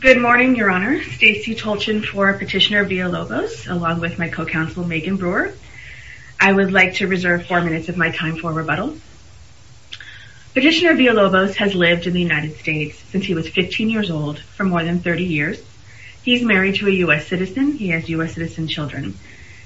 Good morning, Your Honor. Stacey Tolchin for Petitioner Villalobos, along with my co-counsel Megan Brewer. I would like to reserve four minutes of my time for rebuttal. Petitioner Villalobos has lived in the United States since he was 15 years old for more than 30 years. He's married to a U.S. citizen. He has U.S. citizen children.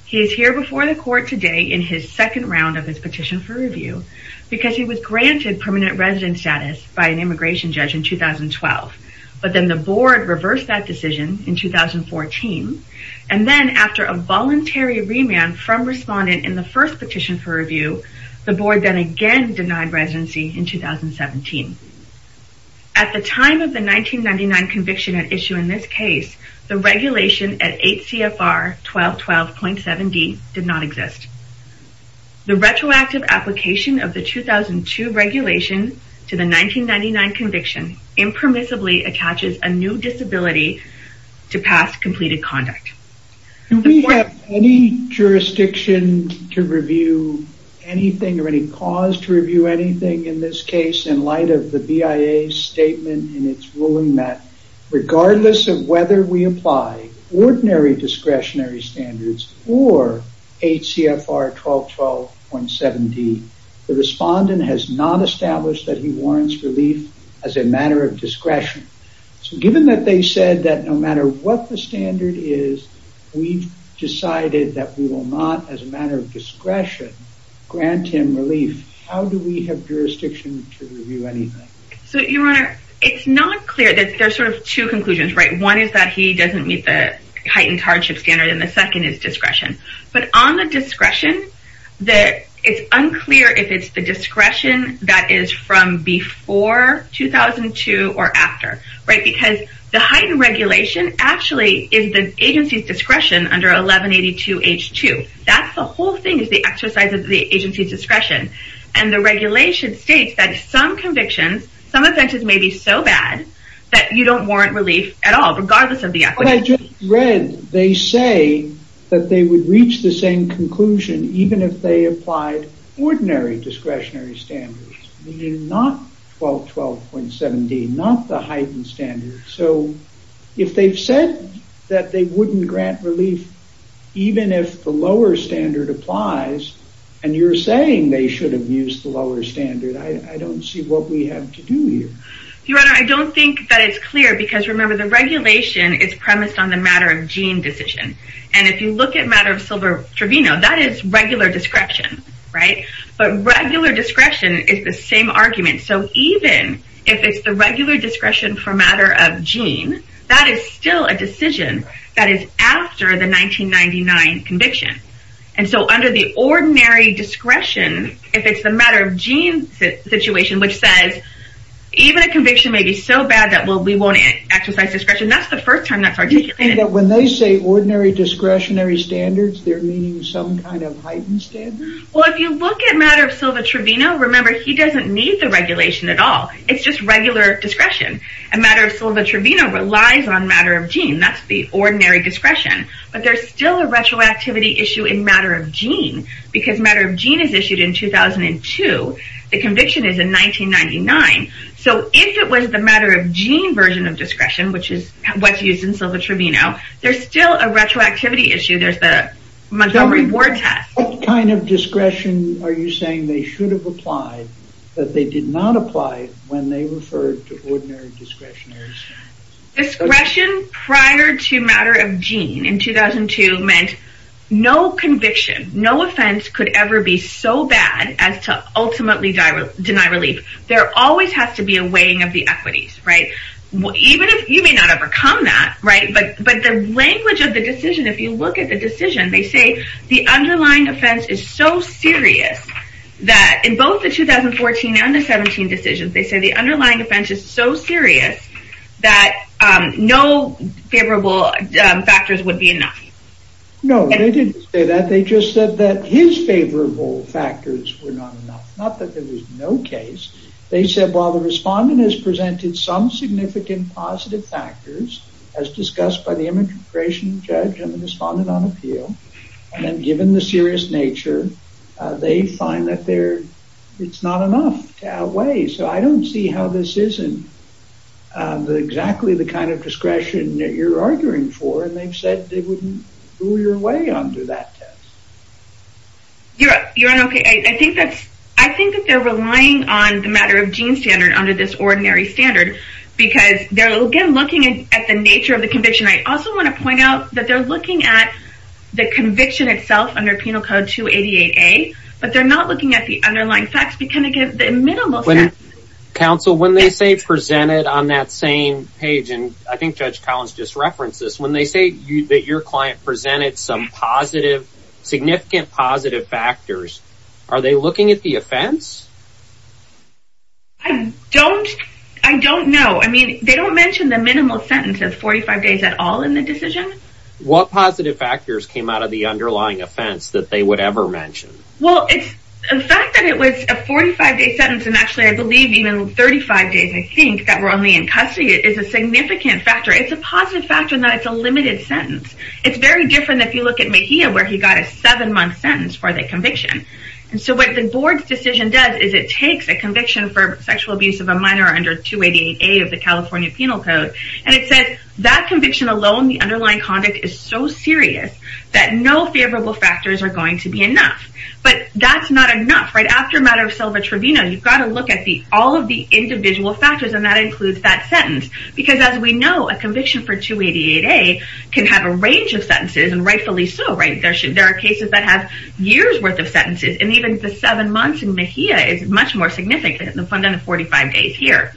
He is here before the court today in his second round of his petition for review because he was granted permanent resident status by an immigration judge in 2012. But then the board reversed that decision in 2014, and then after a voluntary remand from respondent in the first petition for review, the board then again denied residency in 2017. At the time of the 1999 conviction at issue in this case, the regulation at 8 CFR 1212.7d did not exist. The retroactive application of the 2002 regulation to the 1999 conviction impermissibly attaches a new disability to past completed conduct. Do we have any jurisdiction to review anything or any cause to review anything in this case in light of the BIA statement in its ruling that regardless of whether we apply ordinary discretionary standards or 8 CFR 1212.7d, the respondent has not established that he warrants relief as a matter of discretion. So given that they said that no matter what the standard is, we've decided that we will not, as a matter of discretion, grant him relief, how do we have jurisdiction to review anything? So, Your Honor, it's not clear. There's sort of two conclusions, right? One is that he doesn't meet the heightened hardship standard, and the second is discretion. But on the discretion, it's unclear if it's the discretion that is from before 2002 or after, right? Because the heightened regulation actually is the agency's discretion under 1182H2. That's the whole thing is the exercise of the agency's discretion. And the regulation states that some convictions, some offenses may be so bad that you don't warrant relief at all, regardless of the equity. But I just read they say that they would reach the same conclusion even if they applied ordinary discretionary standards, meaning not 1212.7d, not the heightened standard. So if they've said that they wouldn't grant relief even if the lower standard applies, and you're saying they should have used the lower standard, I don't see what we have to do here. Your Honor, I don't think that it's clear because, remember, the regulation is premised on the matter-of-gene decision. And if you look at the matter of Silver Trevino, that is regular discretion, right? But regular discretion is the same argument. So even if it's the regular discretion for matter-of-gene, that is still a decision that is after the 1999 conviction. And so under the ordinary discretion, if it's the matter-of-gene situation, which says even a conviction may be so bad that we won't exercise discretion, that's the first time that's articulated. When they say ordinary discretionary standards, they're meaning some kind of heightened standard? Well, if you look at matter of Silver Trevino, remember, he doesn't need the regulation at all. It's just regular discretion. And matter of Silver Trevino relies on matter-of-gene. That's the ordinary discretion. But there's still a retroactivity issue in matter-of-gene because matter-of-gene is issued in 2002. The conviction is in 1999. So if it was the matter-of-gene version of discretion, which is what's used in Silver Trevino, there's still a retroactivity issue. There's the Montgomery Ward test. What kind of discretion are you saying they should have applied that they did not apply when they referred to ordinary discretionary standards? Discretion prior to matter-of-gene in 2002 meant no conviction, no offense could ever be so bad as to ultimately deny relief. There always has to be a weighing of the equities, right? You may not have overcome that, right? But the language of the decision, if you look at the decision, they say the underlying offense is so serious that in both the 2014 and the 2017 decisions, they say the underlying offense is so serious that no favorable factors would be enough. No, they didn't say that. They just said that his favorable factors were not enough, not that there was no case. They said while the respondent has presented some significant positive factors, as discussed by the immigration judge and the respondent on appeal, and given the serious nature, they find that it's not enough to outweigh. So I don't see how this isn't exactly the kind of discretion that you're arguing for, and they've said they wouldn't do your way under that test. You're on okay. I think that they're relying on the matter-of-gene standard under this ordinary standard because they're, again, looking at the nature of the conviction. I also want to point out that they're looking at the conviction itself under Penal Code 288A, but they're not looking at the underlying facts, but kind of give the minimal facts. Counsel, when they say presented on that same page, and I think Judge Collins just referenced this, when they say that your client presented some positive, significant positive factors, are they looking at the offense? I don't know. I mean, they don't mention the minimal sentence of 45 days at all in the decision. What positive factors came out of the underlying offense that they would ever mention? Well, the fact that it was a 45-day sentence, and actually I believe even 35 days, I think, that were only in custody is a significant factor. It's a positive factor in that it's a limited sentence. It's very different if you look at Mejia, where he got a seven-month sentence for the conviction. So what the board's decision does is it takes a conviction for sexual abuse of a minor under 288A of the California Penal Code, and it says that conviction alone, the underlying conduct is so serious that no favorable factors are going to be enough. But that's not enough. After a matter of self-intervention, you've got to look at all of the individual factors, and that includes that sentence because, as we know, a conviction for 288A can have a range of sentences, and rightfully so. There are cases that have years' worth of sentences, and even the seven months in Mejia is much more significant than the 45 days here.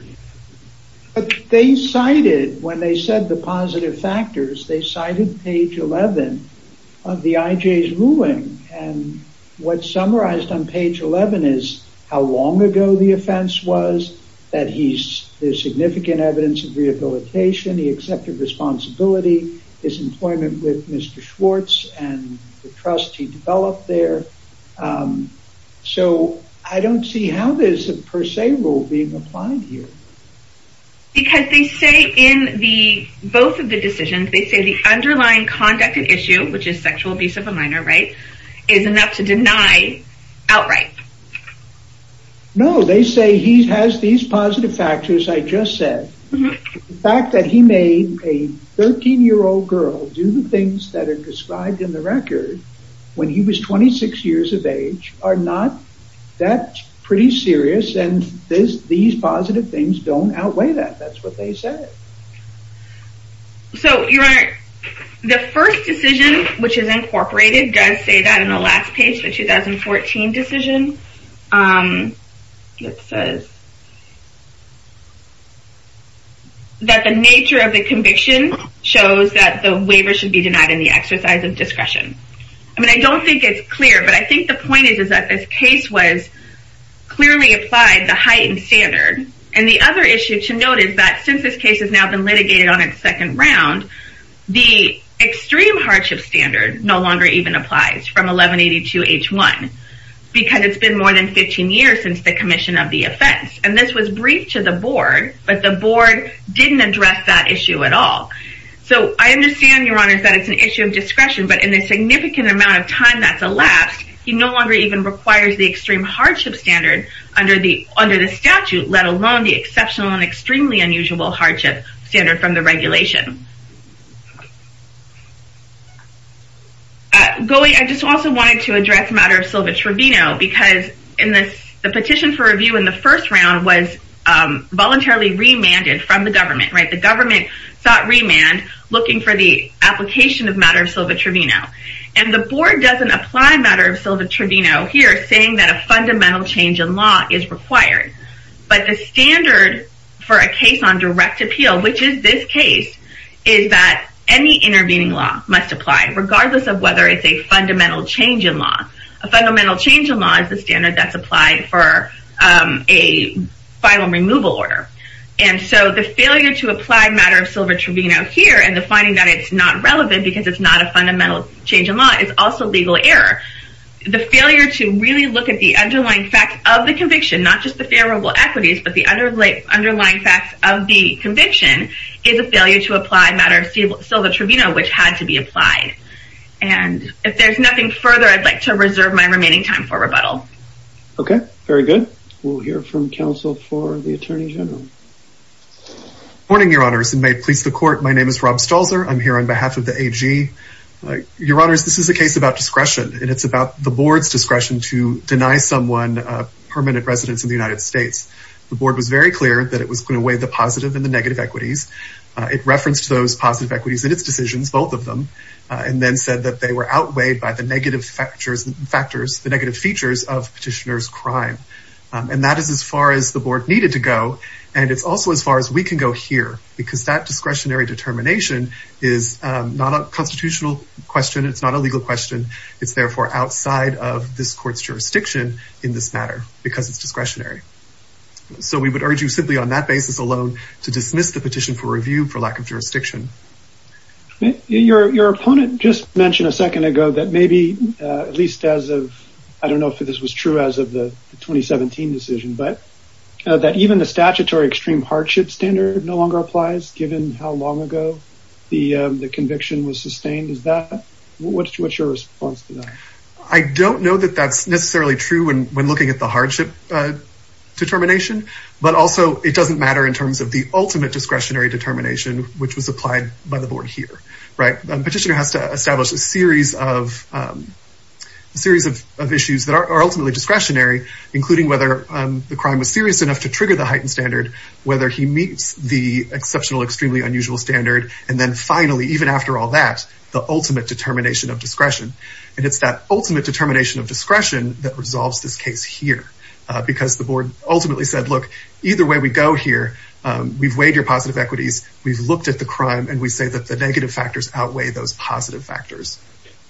But they cited, when they said the positive factors, they cited page 11 of the IJ's ruling, and what's summarized on page 11 is how long ago the offense was, that there's significant evidence of rehabilitation, he accepted responsibility, his employment with Mr. Schwartz and the trust he developed there. So I don't see how there's a per se rule being applied here. Because they say in both of the decisions, they say the underlying conduct and issue, which is sexual abuse of a minor, right, is enough to deny outright. No, they say he has these positive factors I just said. The fact that he made a 13-year-old girl do the things that are described in the record when he was 26 years of age are not that pretty serious, and these positive things don't outweigh that. That's what they said. So, Your Honor, the first decision, which is incorporated, does say that in the last page, the 2014 decision, that the nature of the conviction shows that the waiver should be denied in the exercise of discretion. I mean, I don't think it's clear, but I think the point is that this case was clearly applied, the heightened standard. And the other issue to note is that since this case has now been litigated on its second round, the extreme hardship standard no longer even applies from 1182H1 because it's been more than 15 years since the commission of the offense. And this was briefed to the board, but the board didn't address that issue at all. So I understand, Your Honor, that it's an issue of discretion, but in the significant amount of time that's elapsed, he no longer even requires the extreme hardship standard under the statute, let alone the exceptional and extremely unusual hardship standard from the regulation. Goy, I just also wanted to address the matter of Silva-Trevino because the petition for review in the first round was voluntarily remanded from the government. The government sought remand looking for the application of matter of Silva-Trevino. And the board doesn't apply matter of Silva-Trevino here saying that a fundamental change in law is required. But the standard for a case on direct appeal, which is this case, is that any intervening law must apply regardless of whether it's a fundamental change in law. A fundamental change in law is the standard that's applied for a final removal order. And so the failure to apply matter of Silva-Trevino here and the finding that it's not relevant because it's not a fundamental change in law is also legal error. The failure to really look at the underlying facts of the conviction, not just the favorable equities, but the underlying facts of the conviction, is a failure to apply matter of Silva-Trevino, which had to be applied. And if there's nothing further, I'd like to reserve my remaining time for rebuttal. Okay. Very good. We'll hear from counsel for the Attorney General. Good morning, Your Honors, and may it please the court, my name is Rob Stalzer. I'm here on behalf of the AG. Your Honors, this is a case about discretion, and it's about the board's discretion to deny someone permanent residence in the United States. The board was very clear that it was going to weigh the positive and the negative equities. It referenced those positive equities in its decisions, both of them, and then said that they were outweighed by the negative factors, the negative features of petitioner's crime. And that is as far as the board needed to go, and it's also as far as we can go here, because that discretionary determination is not a constitutional question, it's not a legal question. It's therefore outside of this court's jurisdiction in this matter, because it's discretionary. So we would urge you simply on that basis alone to dismiss the petition for review for lack of jurisdiction. Your opponent just mentioned a second ago that maybe at least as of, I don't know if this was true as of the 2017 decision, but that even the statutory extreme hardship standard no longer applies, given how long ago the conviction was sustained. What's your response to that? I don't know that that's necessarily true when looking at the hardship determination, but also it doesn't matter in terms of the ultimate discretionary determination, which was applied by the board here. A petitioner has to establish a series of issues that are ultimately discretionary, including whether the crime was serious enough to trigger the heightened standard, whether he meets the exceptional extremely unusual standard, and then finally, even after all that, the ultimate determination of discretion. And it's that ultimate determination of discretion that resolves this case here, because the board ultimately said, look, either way we go here, we've weighed your positive equities, we've looked at the crime, and we say that the negative factors outweigh those positive factors.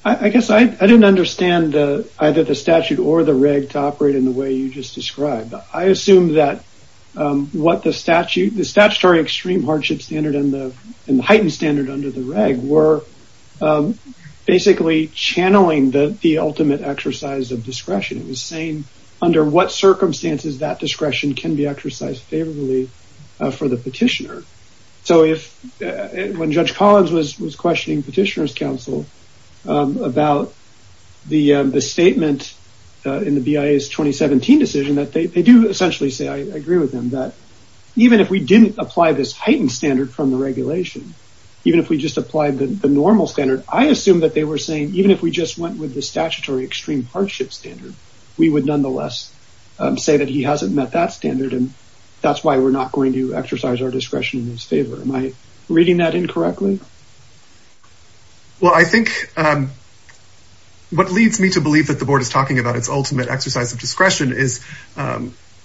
I guess I didn't understand either the statute or the reg to operate in the way you just described. I assume that the statutory extreme hardship standard and the heightened standard under the reg were basically channeling the ultimate exercise of discretion. It was saying under what circumstances that discretion can be exercised favorably for the petitioner. When Judge Collins was questioning petitioner's counsel about the statement in the BIA's 2017 decision, they do essentially say, I agree with them, that even if we didn't apply this heightened standard from the regulation, even if we just applied the normal standard, I assume that they were saying, even if we just went with the statutory extreme hardship standard, we would nonetheless say that he hasn't met that standard, and that's why we're not going to exercise our discretion in his favor. Am I reading that incorrectly? Well, I think what leads me to believe that the board is talking about its ultimate exercise of discretion is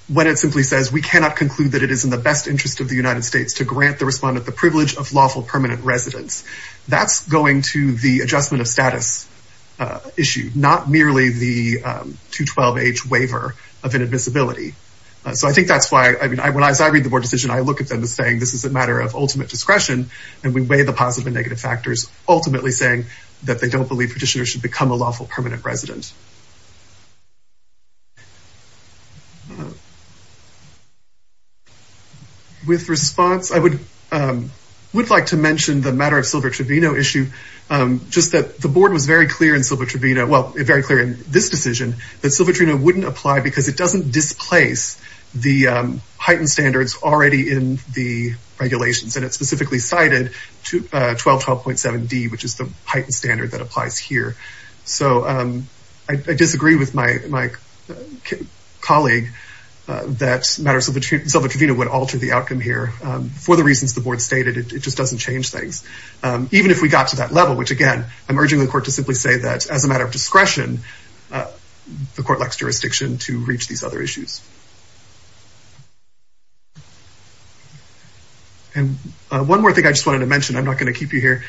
when it simply says we cannot conclude that it is in the best interest of the United States to grant the respondent the privilege of lawful permanent residence. That's going to the adjustment of status issue, not merely the 2-12 age waiver of inadmissibility. So I think that's why, as I read the board decision, I look at them as saying this is a matter of ultimate discretion, and we weigh the positive and negative factors, ultimately saying that they don't believe petitioners should become a lawful permanent resident. With response, I would like to mention the matter of Silva-Trevino issue, just that the board was very clear in Silva-Trevino, well, very clear in this decision, that Silva-Trevino wouldn't apply because it doesn't displace the heightened standards already in the regulations, and it specifically cited 1212.7D, which is the heightened standard that applies here. So I disagree with my colleague that matter of Silva-Trevino would alter the outcome here for the reasons the board stated. It just doesn't change things. Even if we got to that level, which again, I'm urging the court to simply say that as a matter of discretion, the court lacks jurisdiction to reach these other issues. And one more thing I just wanted to mention, I'm not going to keep you here,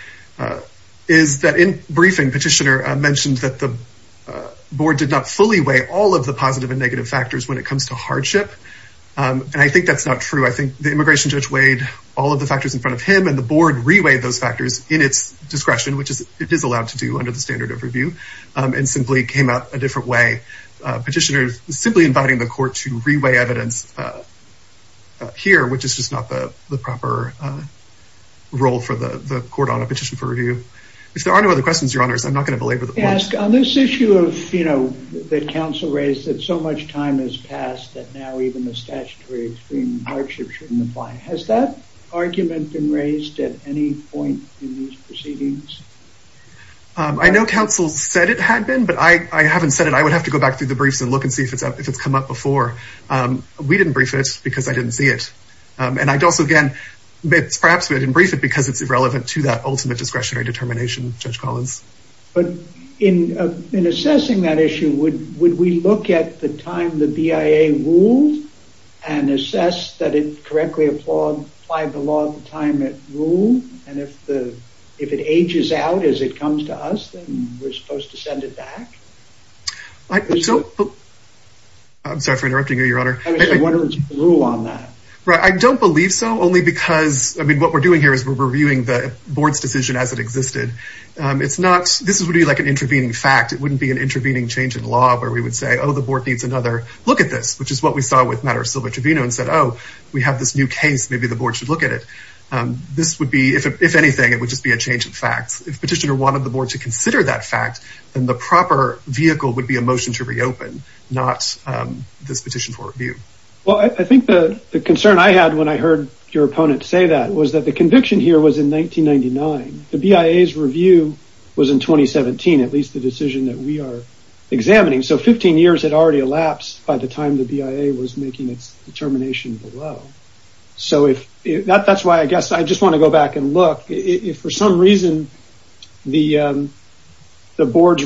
is that in briefing, petitioner mentioned that the board did not fully weigh all of the positive and negative factors when it comes to hardship, and I think that's not true. I think the immigration judge weighed all of the factors in front of him, and the board re-weighed those factors in its discretion, which it is allowed to do under the standard of review, and simply came out a different way. Petitioner is simply inviting the court to re-weigh evidence here, which is just not the proper role for the court on a petition for review. If there are no other questions, your honors, I'm not going to belabor the points. On this issue that counsel raised, that so much time has passed that now even the statutory extreme hardship shouldn't apply, has that argument been raised at any point in these proceedings? I know counsel said it had been, but I haven't said it. I would have to go back through the briefs and look and see if it's come up before. We didn't brief it because I didn't see it. And I'd also, again, perhaps we didn't brief it because it's irrelevant to that ultimate discretionary determination, Judge Collins. But in assessing that issue, would we look at the time the BIA ruled and assess that it correctly applied the law at the time it ruled? And if it ages out as it comes to us, then we're supposed to send it back? I'm sorry for interrupting you, your honor. I was just wondering what's the rule on that? I don't believe so, only because, I mean, what we're doing here is we're reviewing the board's decision as it existed. This would be like an intervening fact. It wouldn't be an intervening change in law where we would say, oh, the board needs another look at this, which is what we saw with the matter of Silva-Trevino and said, oh, we have this new case. Maybe the board should look at it. This would be, if anything, it would just be a change of facts. If petitioner wanted the board to consider that fact, then the proper vehicle would be a motion to reopen, not this petition for review. Well, I think the concern I had when I heard your opponent say that was that the conviction here was in 1999. The BIA's review was in 2017, at least the decision that we are examining. So 15 years had already elapsed by the time the BIA was making its determination below. That's why I guess I just want to go back and look. If for some reason the board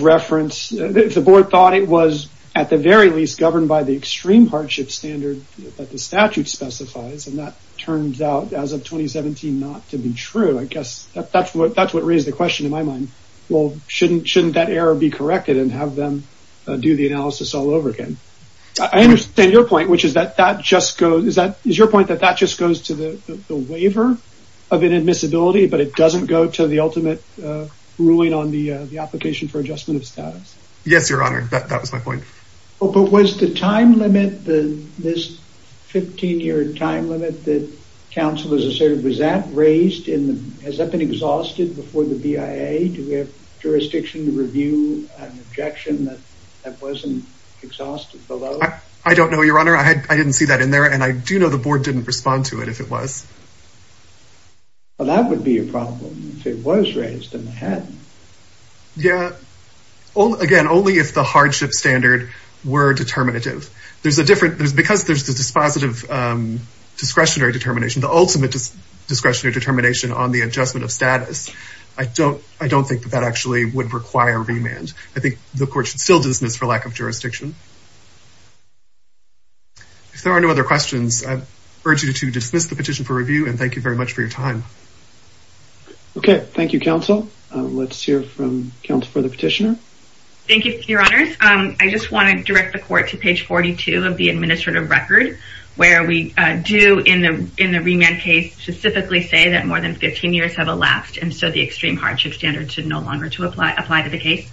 thought it was, at the very least, governed by the extreme hardship standard that the statute specifies, and that turns out as of 2017 not to be true, I guess that's what raised the question in my mind. Well, shouldn't that error be corrected and have them do the analysis all over again? I understand your point, which is that that just goes to the waiver of inadmissibility, but it doesn't go to the ultimate ruling on the application for adjustment of status. Yes, Your Honor. That was my point. But was the time limit, this 15-year time limit that counsel has asserted, was that raised? Has that been exhausted before the BIA? Do we have jurisdiction to review an objection that wasn't exhausted below? I don't know, Your Honor. I didn't see that in there, and I do know the board didn't respond to it if it was. Well, that would be a problem if it was raised and it hadn't. Yeah. Again, only if the hardship standard were determinative. Because there's this positive discretionary determination, the ultimate discretionary determination on the adjustment of status, I don't think that that actually would require remand. I think the court should still dismiss for lack of jurisdiction. If there are no other questions, I urge you to dismiss the petition for review, and thank you very much for your time. Okay. Thank you, counsel. Let's hear from counsel for the petitioner. Thank you, Your Honors. I just want to direct the court to page 42 of the administrative record, where we do in the remand case specifically say that more than 15 years have elapsed, and so the extreme hardship standard should no longer apply to the case.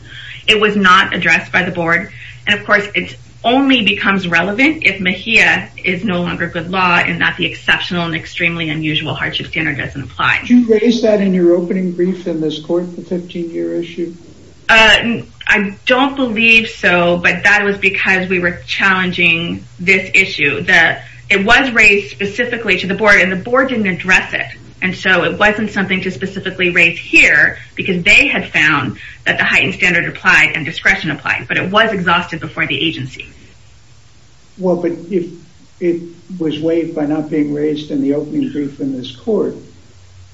It was not addressed by the board. And, of course, it only becomes relevant if MHIA is no longer good law, and that the exceptional and extremely unusual hardship standard doesn't apply. Did you raise that in your opening brief in this court, the 15-year issue? I don't believe so, but that was because we were challenging this issue. It was raised specifically to the board, and the board didn't address it, and so it wasn't something to specifically raise here, because they had found that the heightened standard applied and discretion applied, but it was exhausted before the agency. Well, but it was waived by not being raised in the opening brief in this court.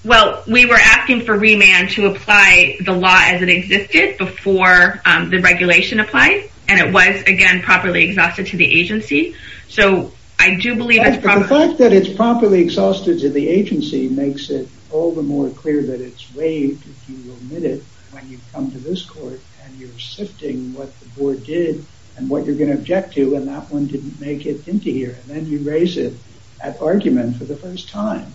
Well, we were asking for remand to apply the law as it existed before the regulation applied, and it was, again, properly exhausted to the agency. So, I do believe that's probably... But the fact that it's properly exhausted to the agency makes it all the more clear that it's waived if you omit it when you come to this court, and you're sifting what the board did and what you're going to object to, and that one didn't make it into here, and then you raise it at argument for the first time.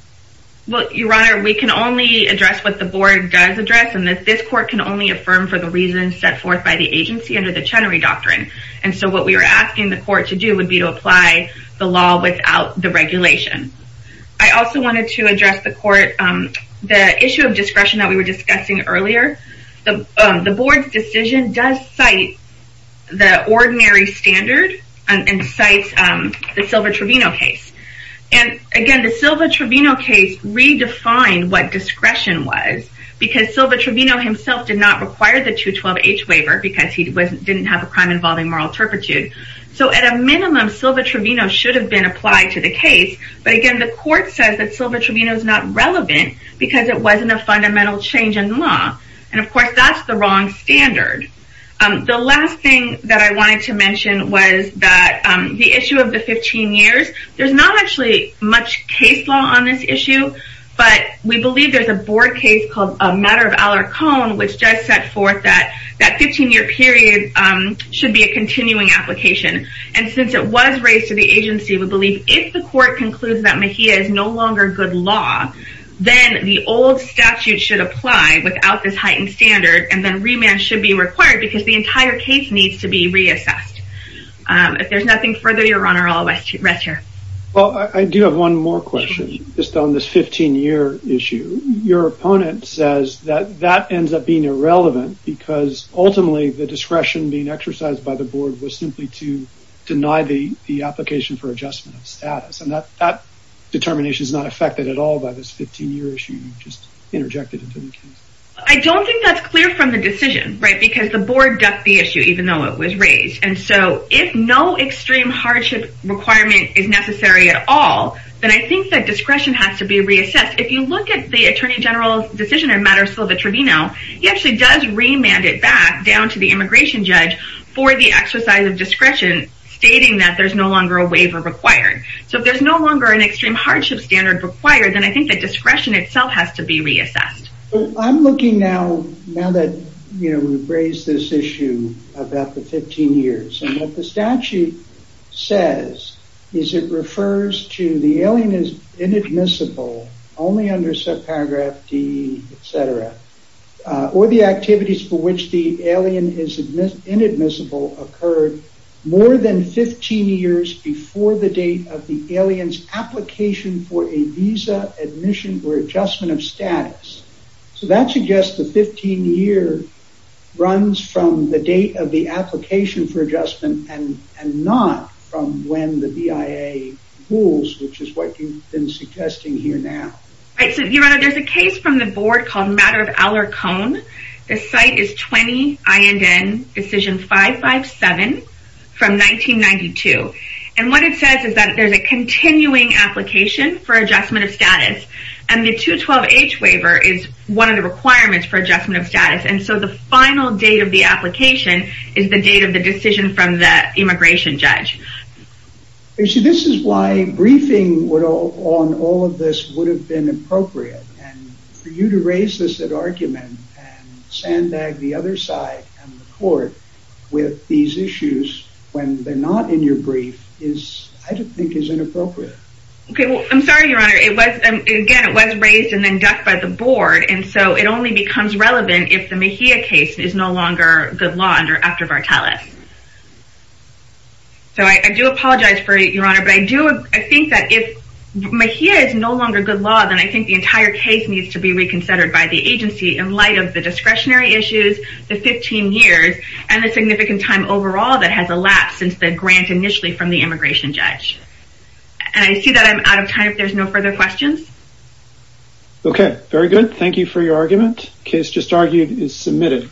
Well, Your Honor, we can only address what the board does address, and that this court can only affirm for the reasons set forth by the agency under the Chenery Doctrine, and so what we were asking the court to do would be to apply the law without the regulation. I also wanted to address the court the issue of discretion that we were discussing earlier. The board's decision does cite the ordinary standard and cites the Silva-Trevino case, and, again, the Silva-Trevino case redefined what discretion was because Silva-Trevino himself did not require the 212-H waiver because he didn't have a crime involving moral turpitude. So, at a minimum, Silva-Trevino should have been applied to the case, but, again, the court says that Silva-Trevino is not relevant because it wasn't a fundamental change in the law, and, of course, that's the wrong standard. The last thing that I wanted to mention was that the issue of the 15 years, there's not actually much case law on this issue, but we believe there's a board case called Matter of Alarcon which does set forth that that 15-year period should be a continuing application, and since it was raised to the agency, we believe if the court concludes that Mejia is no longer good law, then the old statute should apply without this heightened standard, and then remand should be required because the entire case needs to be reassessed. If there's nothing further, Your Honor, I'll rest here. Well, I do have one more question just on this 15-year issue. Your opponent says that that ends up being irrelevant because, ultimately, the discretion being exercised by the board was simply to deny the application for adjustment of status, and that determination is not affected at all by this 15-year issue you just interjected into the case. I don't think that's clear from the decision, right, and so if no extreme hardship requirement is necessary at all, then I think that discretion has to be reassessed. If you look at the Attorney General's decision in Matter of Silva-Trevino, he actually does remand it back down to the immigration judge for the exercise of discretion, stating that there's no longer a waiver required. So if there's no longer an extreme hardship standard required, then I think that discretion itself has to be reassessed. I'm looking now, now that we've raised this issue about the 15 years, and what the statute says is it refers to the alien is inadmissible only under subparagraph D, etc., or the activities for which the alien is inadmissible occurred more than 15 years before the date of the alien's application for a visa, admission, or adjustment of status. So that suggests the 15-year runs from the date of the application for adjustment and not from when the BIA rules, which is what you've been suggesting here now. Right, so, Your Honor, there's a case from the board called Matter of Alarcon. The site is 20 INN Decision 557 from 1992. And what it says is that there's a continuing application for adjustment of status. And the 212H waiver is one of the requirements for adjustment of status. And so the final date of the application is the date of the decision from the immigration judge. You see, this is why briefing on all of this would have been appropriate. And for you to raise this argument and sandbag the other side and the court with these issues when they're not in your brief is, I think, is inappropriate. Okay, well, I'm sorry, Your Honor. Again, it was raised and then ducked by the board. And so it only becomes relevant if the Mejia case is no longer good law under Act of Artelis. So I do apologize for it, Your Honor. But I think that if Mejia is no longer good law, then I think the entire case needs to be reconsidered by the agency in light of the discretionary issues, the 15 years, and the significant time overall that has elapsed since the grant initially from the immigration judge. And I see that I'm out of time if there's no further questions. Okay, very good. Thank you for your argument. Case just argued is submitted.